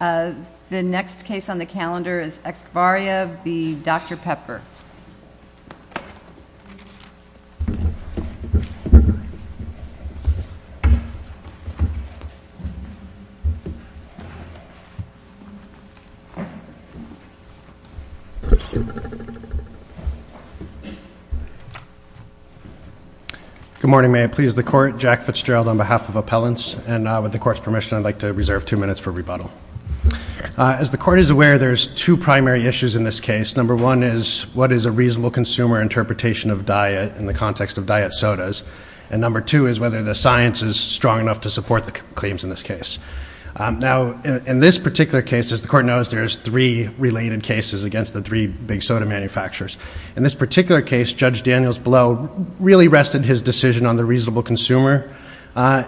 The next case on the calendar is Excevarria v. Dr. Pepper. Good morning, may I please the court. Jack Fitzgerald on behalf of Appellants and with the court's permission I'd like to reserve two minutes for rebuttal. As the court is aware there's two primary issues in this case. Number one is what is a reasonable consumer interpretation of diet in the context of diet sodas and number two is whether the science is strong enough to support the claims in this case. Now in this particular case as the court knows there's three related cases against the three big soda manufacturers. In this particular case Judge Daniels Blow really rested his decision on the reasonable consumer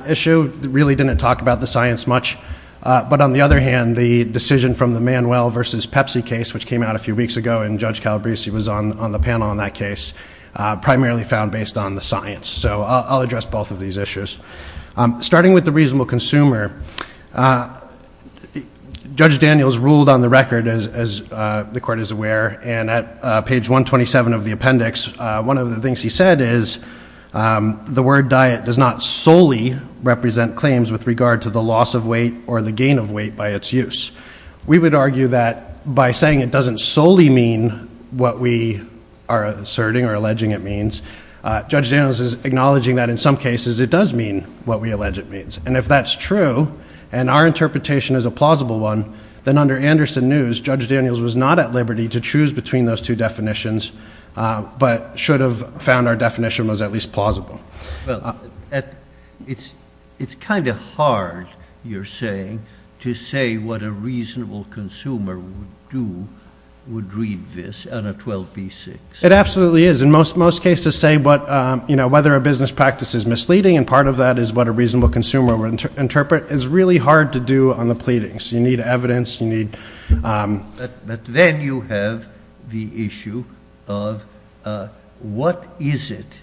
issue really didn't talk about the science much but on the other hand the decision from the Manuel versus Pepsi case which came out a few weeks ago and Judge Calabrese was on on the panel on that case primarily found based on the science so I'll address both of these issues. Starting with the reasonable consumer Judge Daniels ruled on the record as the court is aware and at page 127 of the appendix one of the things he said is the word diet does not solely represent claims with regard to the loss of weight or the gain of weight by its use. We would argue that by saying it doesn't solely mean what we are asserting or alleging it means Judge Daniels is acknowledging that in some cases it does mean what we allege it means and if that's true and our interpretation is a plausible one then under Anderson News Judge Daniels was not at liberty to choose between those two definitions but should have found our definition was at least plausible. Well it's it's kind of hard you're saying to say what a reasonable consumer would do would read this on a 12b6. It absolutely is in most most cases say but you know whether a business practice is misleading and part of that is what a reasonable consumer would interpret is really hard to do on the pleadings you need evidence you need. But then you have the issue of what is it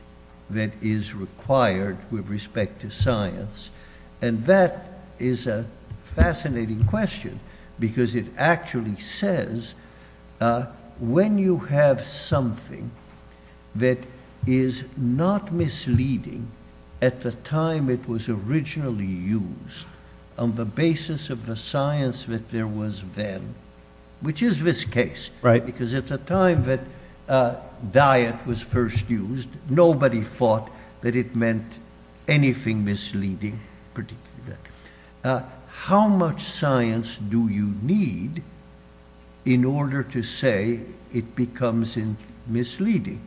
that is required with respect to science and that is a fascinating question because it actually says when you have something that is not misleading at the time it was originally used on the basis of the then which is this case right because it's a time that diet was first used nobody thought that it meant anything misleading. How much science do you need in order to say it becomes in misleading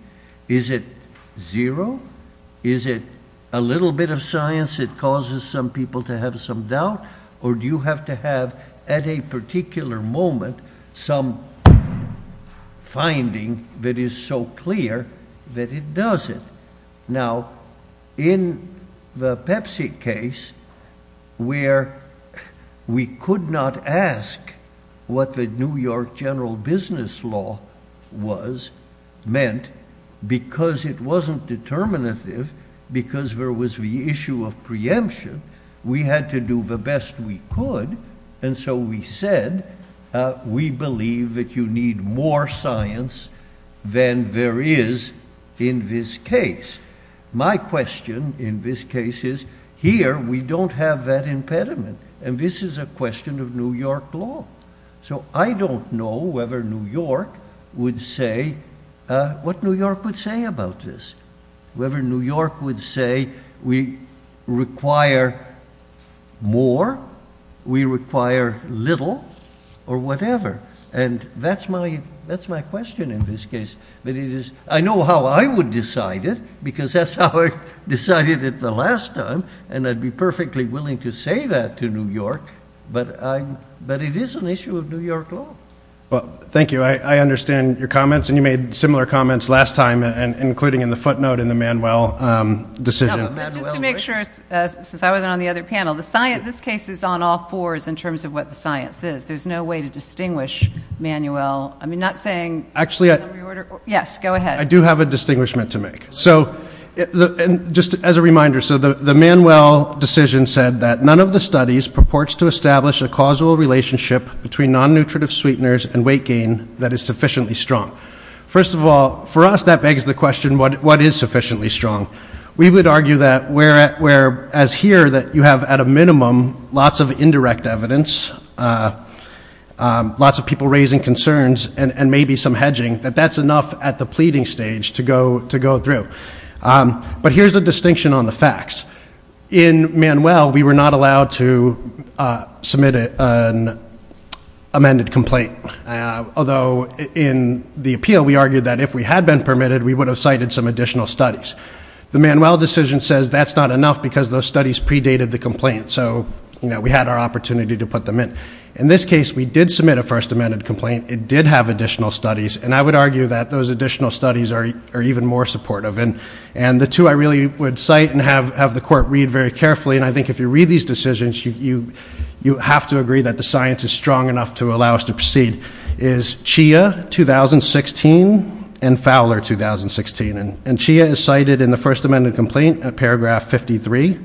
is it zero is it a little bit of science it causes some people to have some doubt or do you have to have at a particular moment some finding that is so clear that it does it. Now in the Pepsi case where we could not ask what the New York general business law was meant because it wasn't determinative because there was the issue of preemption we had to do the best we could and so we said we believe that you need more science than there is in this case. My question in this case is here we don't have that impediment and this is a question of New York law so I don't know whether New York would say what New York would say about this whoever New York would say we require more we require little or whatever and that's my that's my question in this case but it is I know how I would decide it because that's how I decided it the last time and I'd be perfectly willing to say that to New York but I but it is an issue of New York law. Well thank you I understand your comments and you made similar comments last time and including in the footnote in the Manuel decision. Just to make sure since I wasn't on the other panel the science this case is on all fours in terms of what the science is there's no way to distinguish Manuel I mean not saying actually yes go ahead. I do have a distinguishment to make so the and just as a reminder so the the Manuel decision said that none of the studies purports to establish a causal relationship between non-nutritive sweeteners and weight gain that is sufficiently strong. First of all for us that begs the question what what is sufficiently strong we would argue that where at where as here that you have at a minimum lots of indirect evidence lots of people raising concerns and and maybe some hedging that that's enough at the pleading stage to go to go through but here's a distinction on the facts in Manuel we were not allowed to submit an amended complaint although in the appeal we argued that if we had been permitted we would have cited some additional studies. The Manuel decision says that's not enough because those studies predated the complaint so you know we had our opportunity to put them in. In this case we did submit a first amended complaint it did have additional studies and I would argue that those additional studies are even more supportive and and the two I really would cite and have have the court read very carefully and I think if you read these is strong enough to allow us to proceed is Chia 2016 and Fowler 2016 and and Chia is cited in the first amended complaint at paragraph 53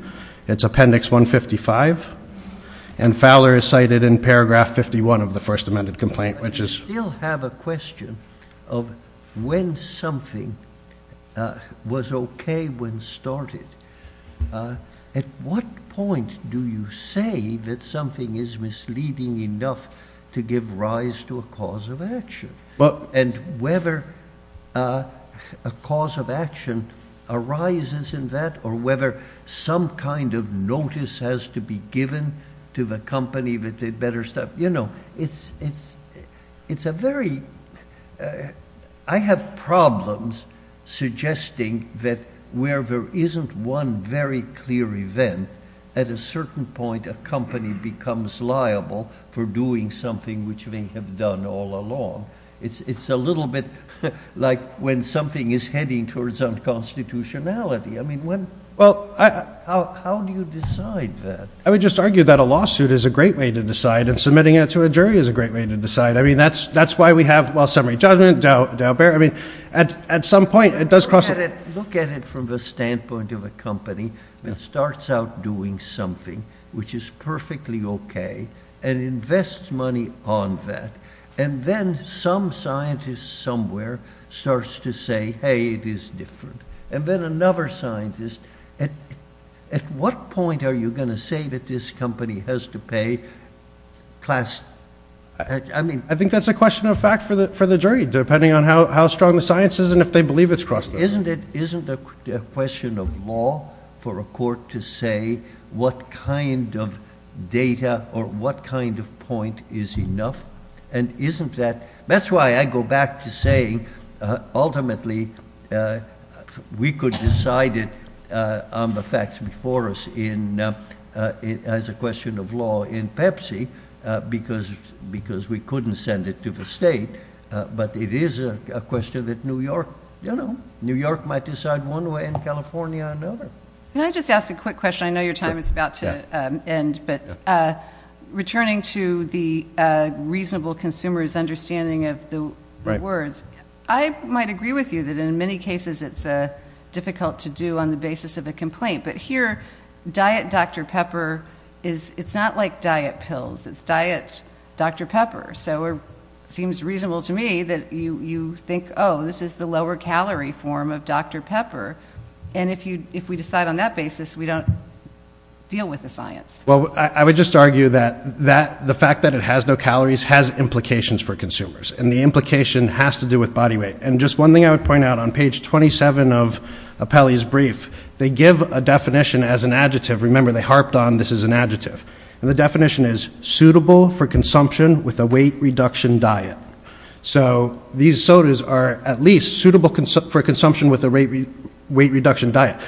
it's appendix 155 and Fowler is cited in paragraph 51 of the first amended complaint which is you'll have a question of when something was okay when started at what point do you say that something is misleading enough to give rise to a cause of action well and whether a cause of action arises in that or whether some kind of notice has to be given to the company that they'd better stop you know it's it's it's a very I have problems suggesting that where there isn't one very clear event at a certain point a company becomes liable for doing something which they have done all along it's it's a little bit like when something is heading towards unconstitutionality I mean when well I how do you decide that I would just argue that a lawsuit is a great way to decide and submitting it to a jury is a great way to decide I mean that's that's why we have well summary judgment doubt bear I mean at at some point it does look at it from the standpoint of a company that starts out doing something which is perfectly okay and invest money on that and then some scientists somewhere starts to say hey it is different and then another scientist at at what point are you gonna say that this company has to pay class I mean I think that's a question of fact for the for the jury depending on how strong the science is and if they believe it's crossed isn't it isn't a question of law for a court to say what kind of data or what kind of point is enough and isn't that that's why I go back to saying ultimately we could decide it on the facts before us in it as a question of law in Pepsi because because we couldn't send it to the state but it is a question that New York you know New York might decide one way in California and over and I just asked a quick question I know your time is about to end but returning to the reasonable consumers understanding of the words I might agree with you that in many cases it's a difficult to do on the basis of a complaint but here diet dr. pepper is not like diet pills it's diet dr. pepper so it seems reasonable to me that you you think oh this is the lower calorie form of dr. pepper and if you if we decide on that basis we don't deal with the science well I would just argue that that the fact that it has no calories has implications for consumers and the implication has to do with body weight and just one thing I would point out on page 27 of a Peli's brief they give a definition as an adjective remember they definition is suitable for consumption with a weight reduction diet so these sodas are at least suitable for consumption with a weight weight reduction diet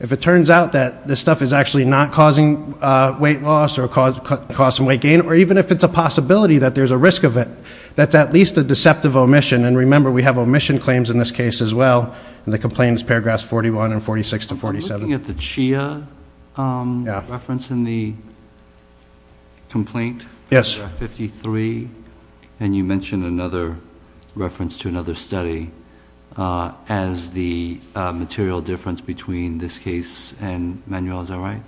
if it turns out that this stuff is actually not causing weight loss or cause cost weight gain or even if it's a possibility that there's a risk of it that's at least a deceptive omission and remember we have omission claims in this case as well and the complaints paragraphs 41 and 46 to 47 looking at the Chia reference in the complaint yes 53 and you mentioned another reference to another study as the material difference between this case and manuals all right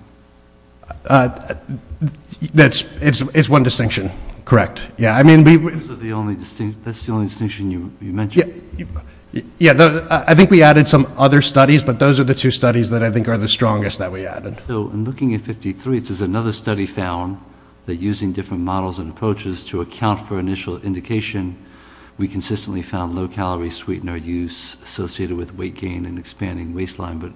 that's it's one distinction correct yeah I mean the only distinction you mentioned yeah yeah I think we added some other studies but those are the two studies that I think are the strongest that we added so in looking at 53 it says another study found that using different models and approaches to account for initial indication we consistently found low calorie sweetener use associated with weight gain and expanding waistline but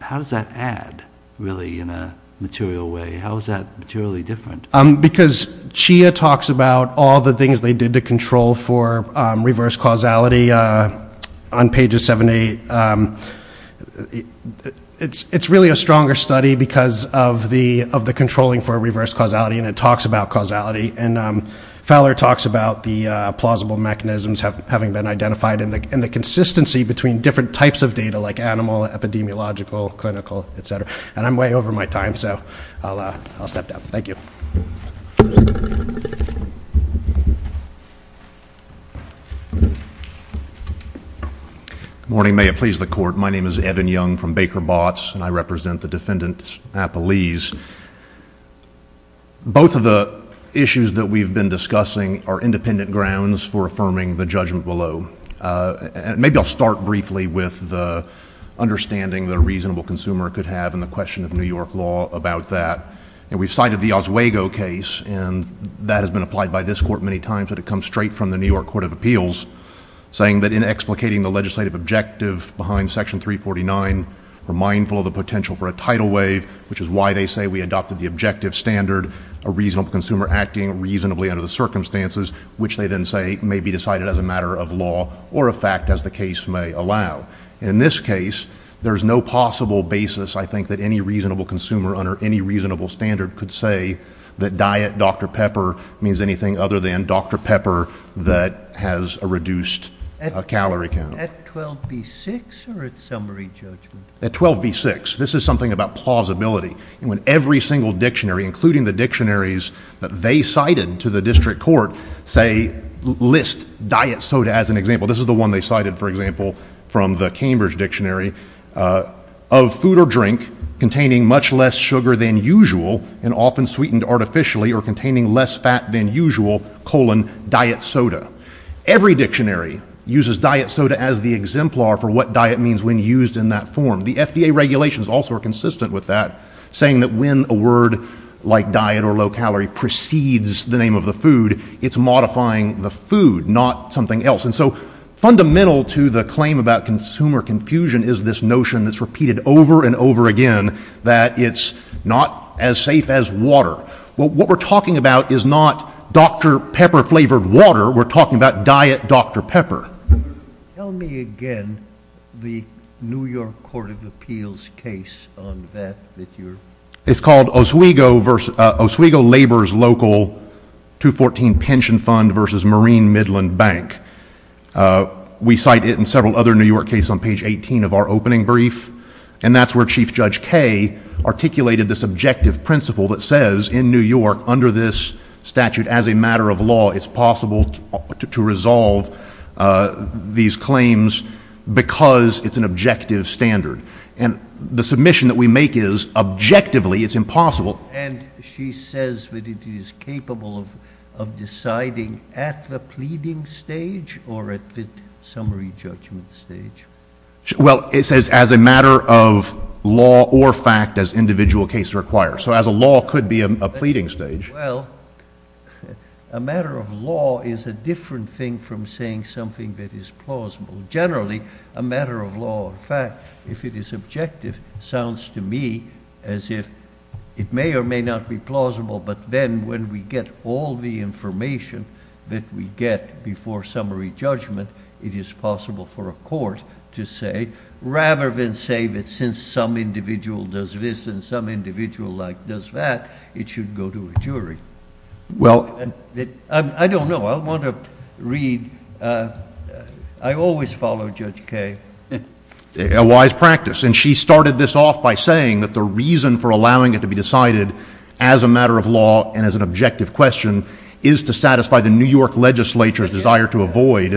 how does that add really in a material way how is that materially different um because Chia talks about all the things they did to control for reverse causality on pages 70 it's it's really a stronger study because of the of the controlling for a reverse causality and it talks about causality and Fowler talks about the plausible mechanisms have having been identified in the in the consistency between different types of data like animal epidemiological clinical etc and I'm way over my time so I'll step down thank you morning may it please the court my name is Evan Young from Baker bots and I represent the defendant's a police both of the issues that we've been discussing are independent grounds for affirming the judgment below and maybe I'll start briefly with the understanding the reasonable consumer could have in the question of New York law about that and we've cited the Oswego case and that has been applied by this court many times that it comes straight from the New York Court of Appeals saying that in explicating the legislative objective behind section 349 were mindful of the potential for a tidal wave which is why they say we adopted the objective standard a reasonable consumer acting reasonably under the circumstances which they then say may be decided as a matter of law or a fact as the case may allow in this case there's no possible basis I think that any reasonable consumer under any reasonable standard could say that diet dr. pepper means anything other than dr. pepper that has a reduced calorie count at 12 b6 or its summary judgment at 12 b6 this is something about plausibility and when every single dictionary including the dictionaries that they cited to the district court say list diet soda as an example this is the one they cited for example from the Cambridge dictionary of food or drink containing much less sugar than usual and often sweetened artificially or containing less fat than usual colon diet soda every dictionary uses diet soda as the exemplar for what diet means when used in that form the FDA regulations also are consistent with that saying that when a word like diet or low-calorie precedes the name of the food it's modifying the food not something else and so fundamental to the claim about consumer confusion is this notion that's repeated over and over again that it's not as safe as water well what we're talking about is not dr. pepper flavored water we're talking about diet dr. pepper again the New York Court of Appeals case on that it's called Oswego versus Oswego Labor's local 214 pension fund versus Marine Midland Bank we cite it in several other New York case on page 18 of our opening brief and that's where Chief Judge Kaye articulated this objective principle that says in New York under this statute as a matter of law it's possible to resolve these claims because it's an objective standard and the submission that we make is objectively it's impossible and she says that it is capable of deciding at the pleading stage or at the summary judgment stage well it says as a matter of law or fact as individual case requires so as a law could be a pleading stage well a matter of law is a different thing from saying something that is plausible generally a matter of law in fact if it is objective sounds to me as if it may or may not be plausible but then when we get all the information that we get before summary judgment it is possible for a court to say rather than say that since some individual does this and some individual like does that it should go to a jury well I don't know I want to read I always follow Judge Kaye a wise practice and she started this off by saying that the reason for allowing it to be decided as a matter of law and as an objective question is to satisfy the New York legislature's desire to avoid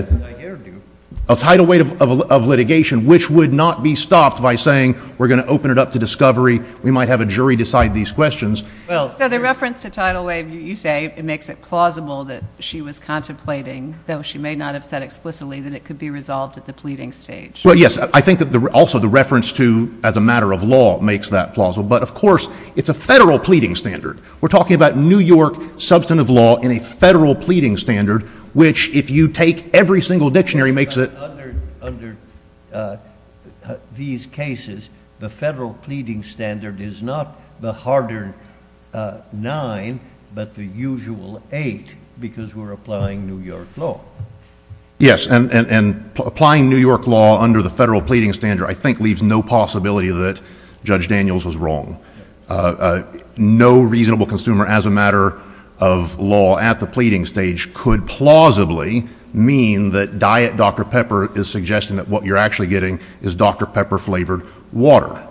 a title weight of litigation which would not be stopped by saying we're gonna open it up to discovery we might have a jury decide these questions well so the reference to title wave you say it makes it plausible that she was contemplating though she may not have said explicitly that it could be resolved at the pleading stage well yes I think that the also the reference to as a matter of law makes that plausible but of course it's a federal pleading standard we're talking about New York substantive law in a federal pleading standard which if you take every single dictionary makes it these cases the federal pleading standard is not the harder nine but the usual eight because we're applying New York law under the federal pleading standard I think leaves no possibility that Judge Daniels was wrong no reasonable consumer as a matter of law at the pleading stage could plausibly mean that diet dr. pepper is suggesting that what you're actually getting is dr. pepper flavored water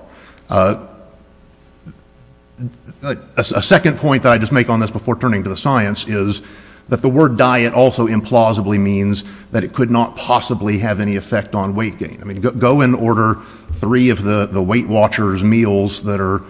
a second point that I just make on this before turning to the science is that the word diet also implausibly means that it could not possibly have any effect on weight gain I mean go in order three of the the Weight Watchers meals that are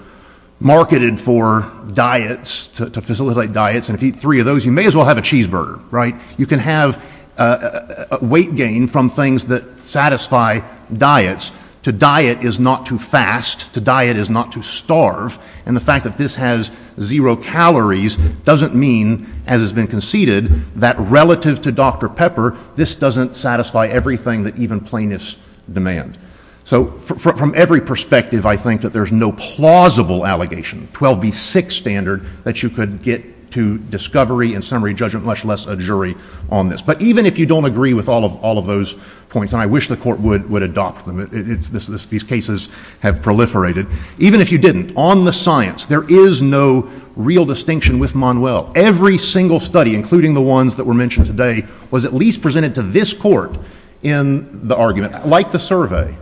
marketed for diets to facilitate diets and if you three of those you may as well have a cheeseburger right you can have a weight gain from things that satisfy diets to diet is not too fast to diet is not to starve and the fact that this has zero calories doesn't mean as has been conceded that relative to dr. pepper this doesn't satisfy everything that even plaintiffs demand so from every perspective I think that there's no plausible allegation 12b6 standard that you could get to discovery and summary judgment much less a jury on this but even if you don't agree with all of all of those points and I wish the court would would adopt them it's this this these cases have proliferated even if you didn't on the science there is no real distinction with Manuel every single study including the ones that were mentioned today was at least presented to this court in the argument like the survey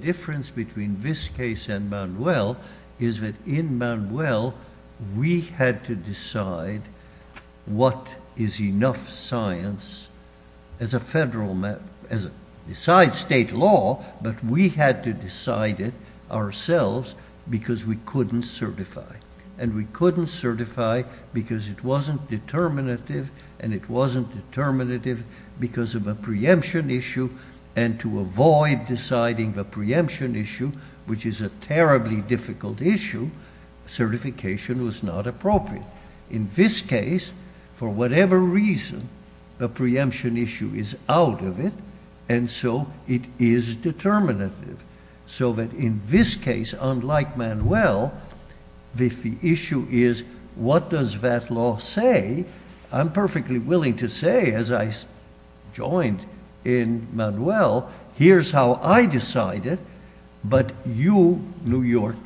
difference between this case and Manuel is that in Manuel we had to decide what is enough science as a we couldn't certify and we couldn't certify because it wasn't determinative and it wasn't determinative because of a preemption issue and to avoid deciding the preemption issue which is a terribly difficult issue certification was not appropriate in this case for whatever reason the preemption issue is out of it and so it is determinative so that in this case unlike Manuel if the issue is what does that law say I'm perfectly willing to say as I joined in Manuel here's how I decided but you New York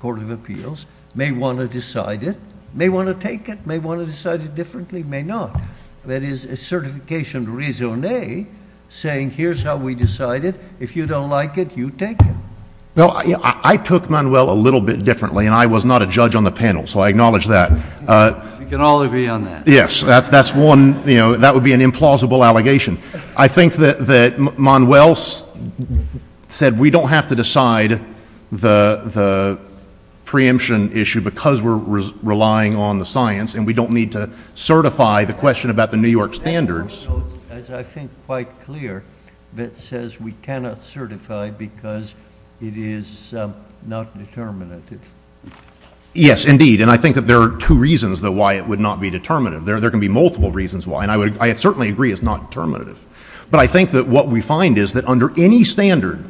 Court of Appeals may want to decide it may want to take it may want to decide it differently may not that is a certification reason a saying here's how we decided if you don't like it you take well I took Manuel a little bit differently and I was not a judge on the panel so I acknowledge that yes that's that's one you know that would be an implausible allegation I think that that Manuel said we don't have to decide the the preemption issue because we're relying on the science and we don't need to certify the question about the New York standards as I think quite clear that says we cannot certify because it is not determinative yes indeed and I think that there are two reasons that why it would not be determinative there there can be multiple reasons why and I would I certainly agree it's not determinative but I think that what we find is that under any standard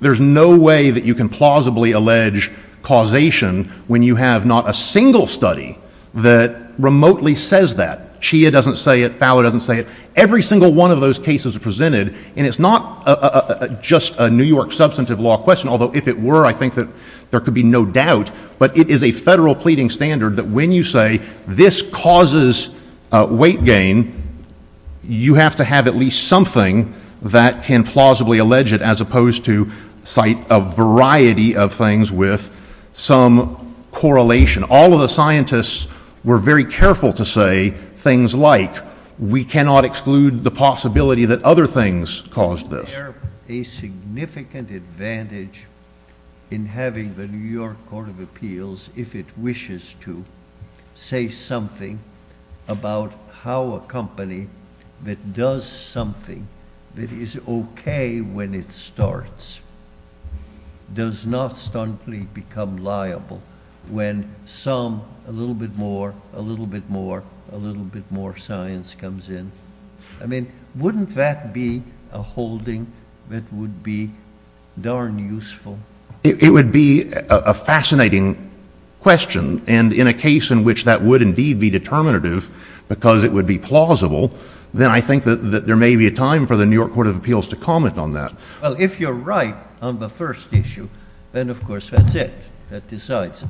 there's no way that you can plausibly allege causation when you have not a single study that remotely says that Chia doesn't say it Fowler doesn't say it every single one of those cases are presented and it's not just a New York substantive law question although if it were I think that there could be no doubt but it is a federal pleading standard that when you say this causes weight gain you have to have at least something that can plausibly allege it as opposed to cite a variety of things with some correlation all of the scientists were very careful to say things like we cannot exclude the possibility that other things caused this a significant advantage in having the New York Court of Appeals if it wishes to say something about how a company that does something that is okay when it starts does not stuntly become liable when some a little bit more a little bit more a little bit more science comes in I mean wouldn't that be a holding that would be darn useful it would be a fascinating question and in a case in which that would indeed be determinative because it would be plausible then I think that there may be a time for the New York Court of Appeals to comment on that well if you're right on the first issue then of course that's it that decides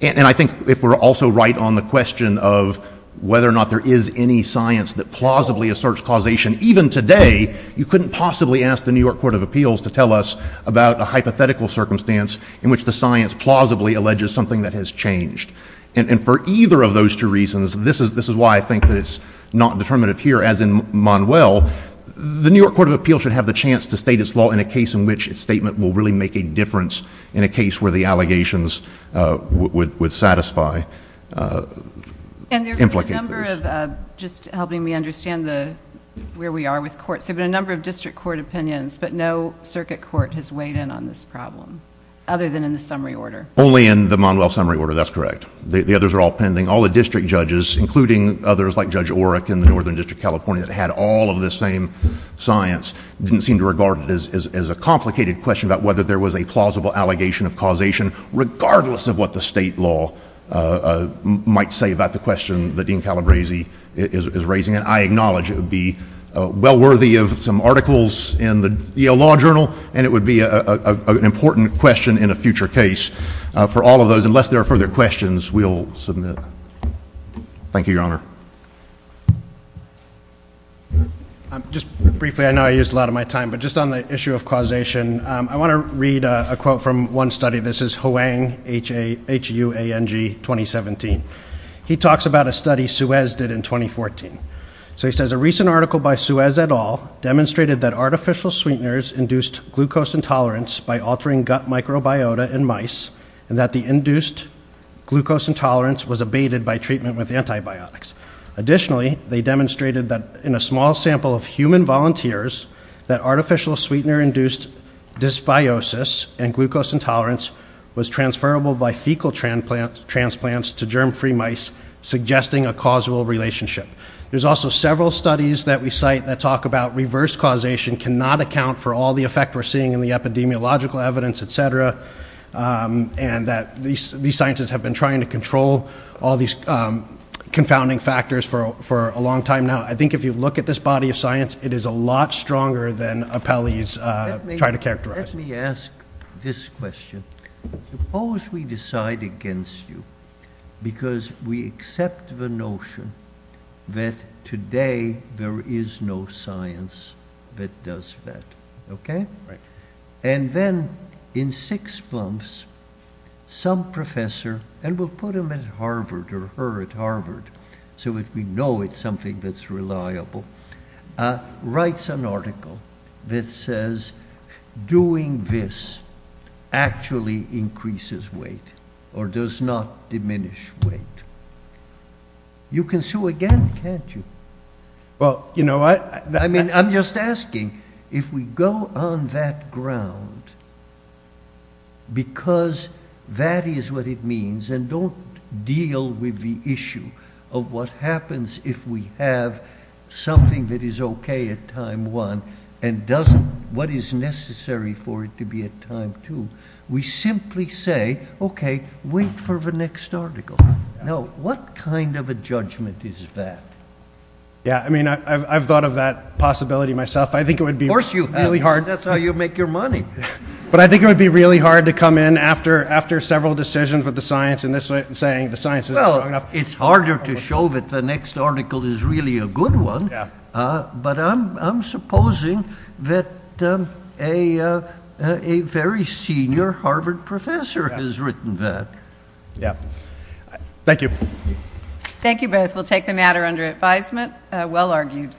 and I think if we're also right on the question of whether or not there is any science that plausibly asserts causation even today you couldn't possibly ask the New York Court of Appeals to tell us about a hypothetical circumstance in which the science plausibly alleges something that has changed and for either of those two reasons this is this is why I think that it's not determinative here as in Manuel the New York Court of Appeals should have the chance to state its law in a way that the statement will really make a difference in a case where the allegations would satisfy implicate just helping me understand the where we are with courts have been a number of district court opinions but no circuit court has weighed in on this problem other than in the summary order only in the Manuel summary order that's correct the others are all pending all the district judges including others like Judge Oreck in the Northern District California that had all of the same science didn't seem to regard it as a complicated question about whether there was a plausible allegation of causation regardless of what the state law might say about the question the Dean Calabresi is raising and I acknowledge it would be well worthy of some articles in the Yale Law Journal and it would be an important question in a future case for all of those unless there are further questions we'll submit thank you your honor just briefly I know I used a lot of my time but just on the I want to read a quote from one study this is Hoang H H U A N G 2017 he talks about a study Suez did in 2014 so he says a recent article by Suez et al demonstrated that artificial sweeteners induced glucose intolerance by altering gut microbiota in mice and that the induced glucose intolerance was abated by treatment with antibiotics additionally they demonstrated that in a dysbiosis and glucose intolerance was transferable by fecal transplant transplants to germ-free mice suggesting a causal relationship there's also several studies that we cite that talk about reverse causation cannot account for all the effect we're seeing in the epidemiological evidence etc and that these these scientists have been trying to control all these confounding factors for a long time now I think if you look at this body of science it is a lot characterized me ask this question suppose we decide against you because we accept the notion that today there is no science that does that okay right and then in six months some professor and we'll put him at Harvard or her at Harvard so if we know it's something that's reliable writes an article that says doing this actually increases weight or does not diminish weight you can sue again can't you well you know what I mean I'm just asking if we go on that ground because that is what it means and don't deal with the issue of what happens if we have something that is okay at time one and doesn't what is necessary for it to be a time to we simply say okay wait for the next article no what kind of a judgment is that yeah I mean I've thought of that possibility myself I think it would be worse you really hard that's how you make your money but I think it would be really hard to come in after after several decisions with the science in this way saying the science is well it's harder to show that the next article is really a good one but I'm supposing that a very senior Harvard professor has written that yeah thank you thank you both will take the matter under advisement well argued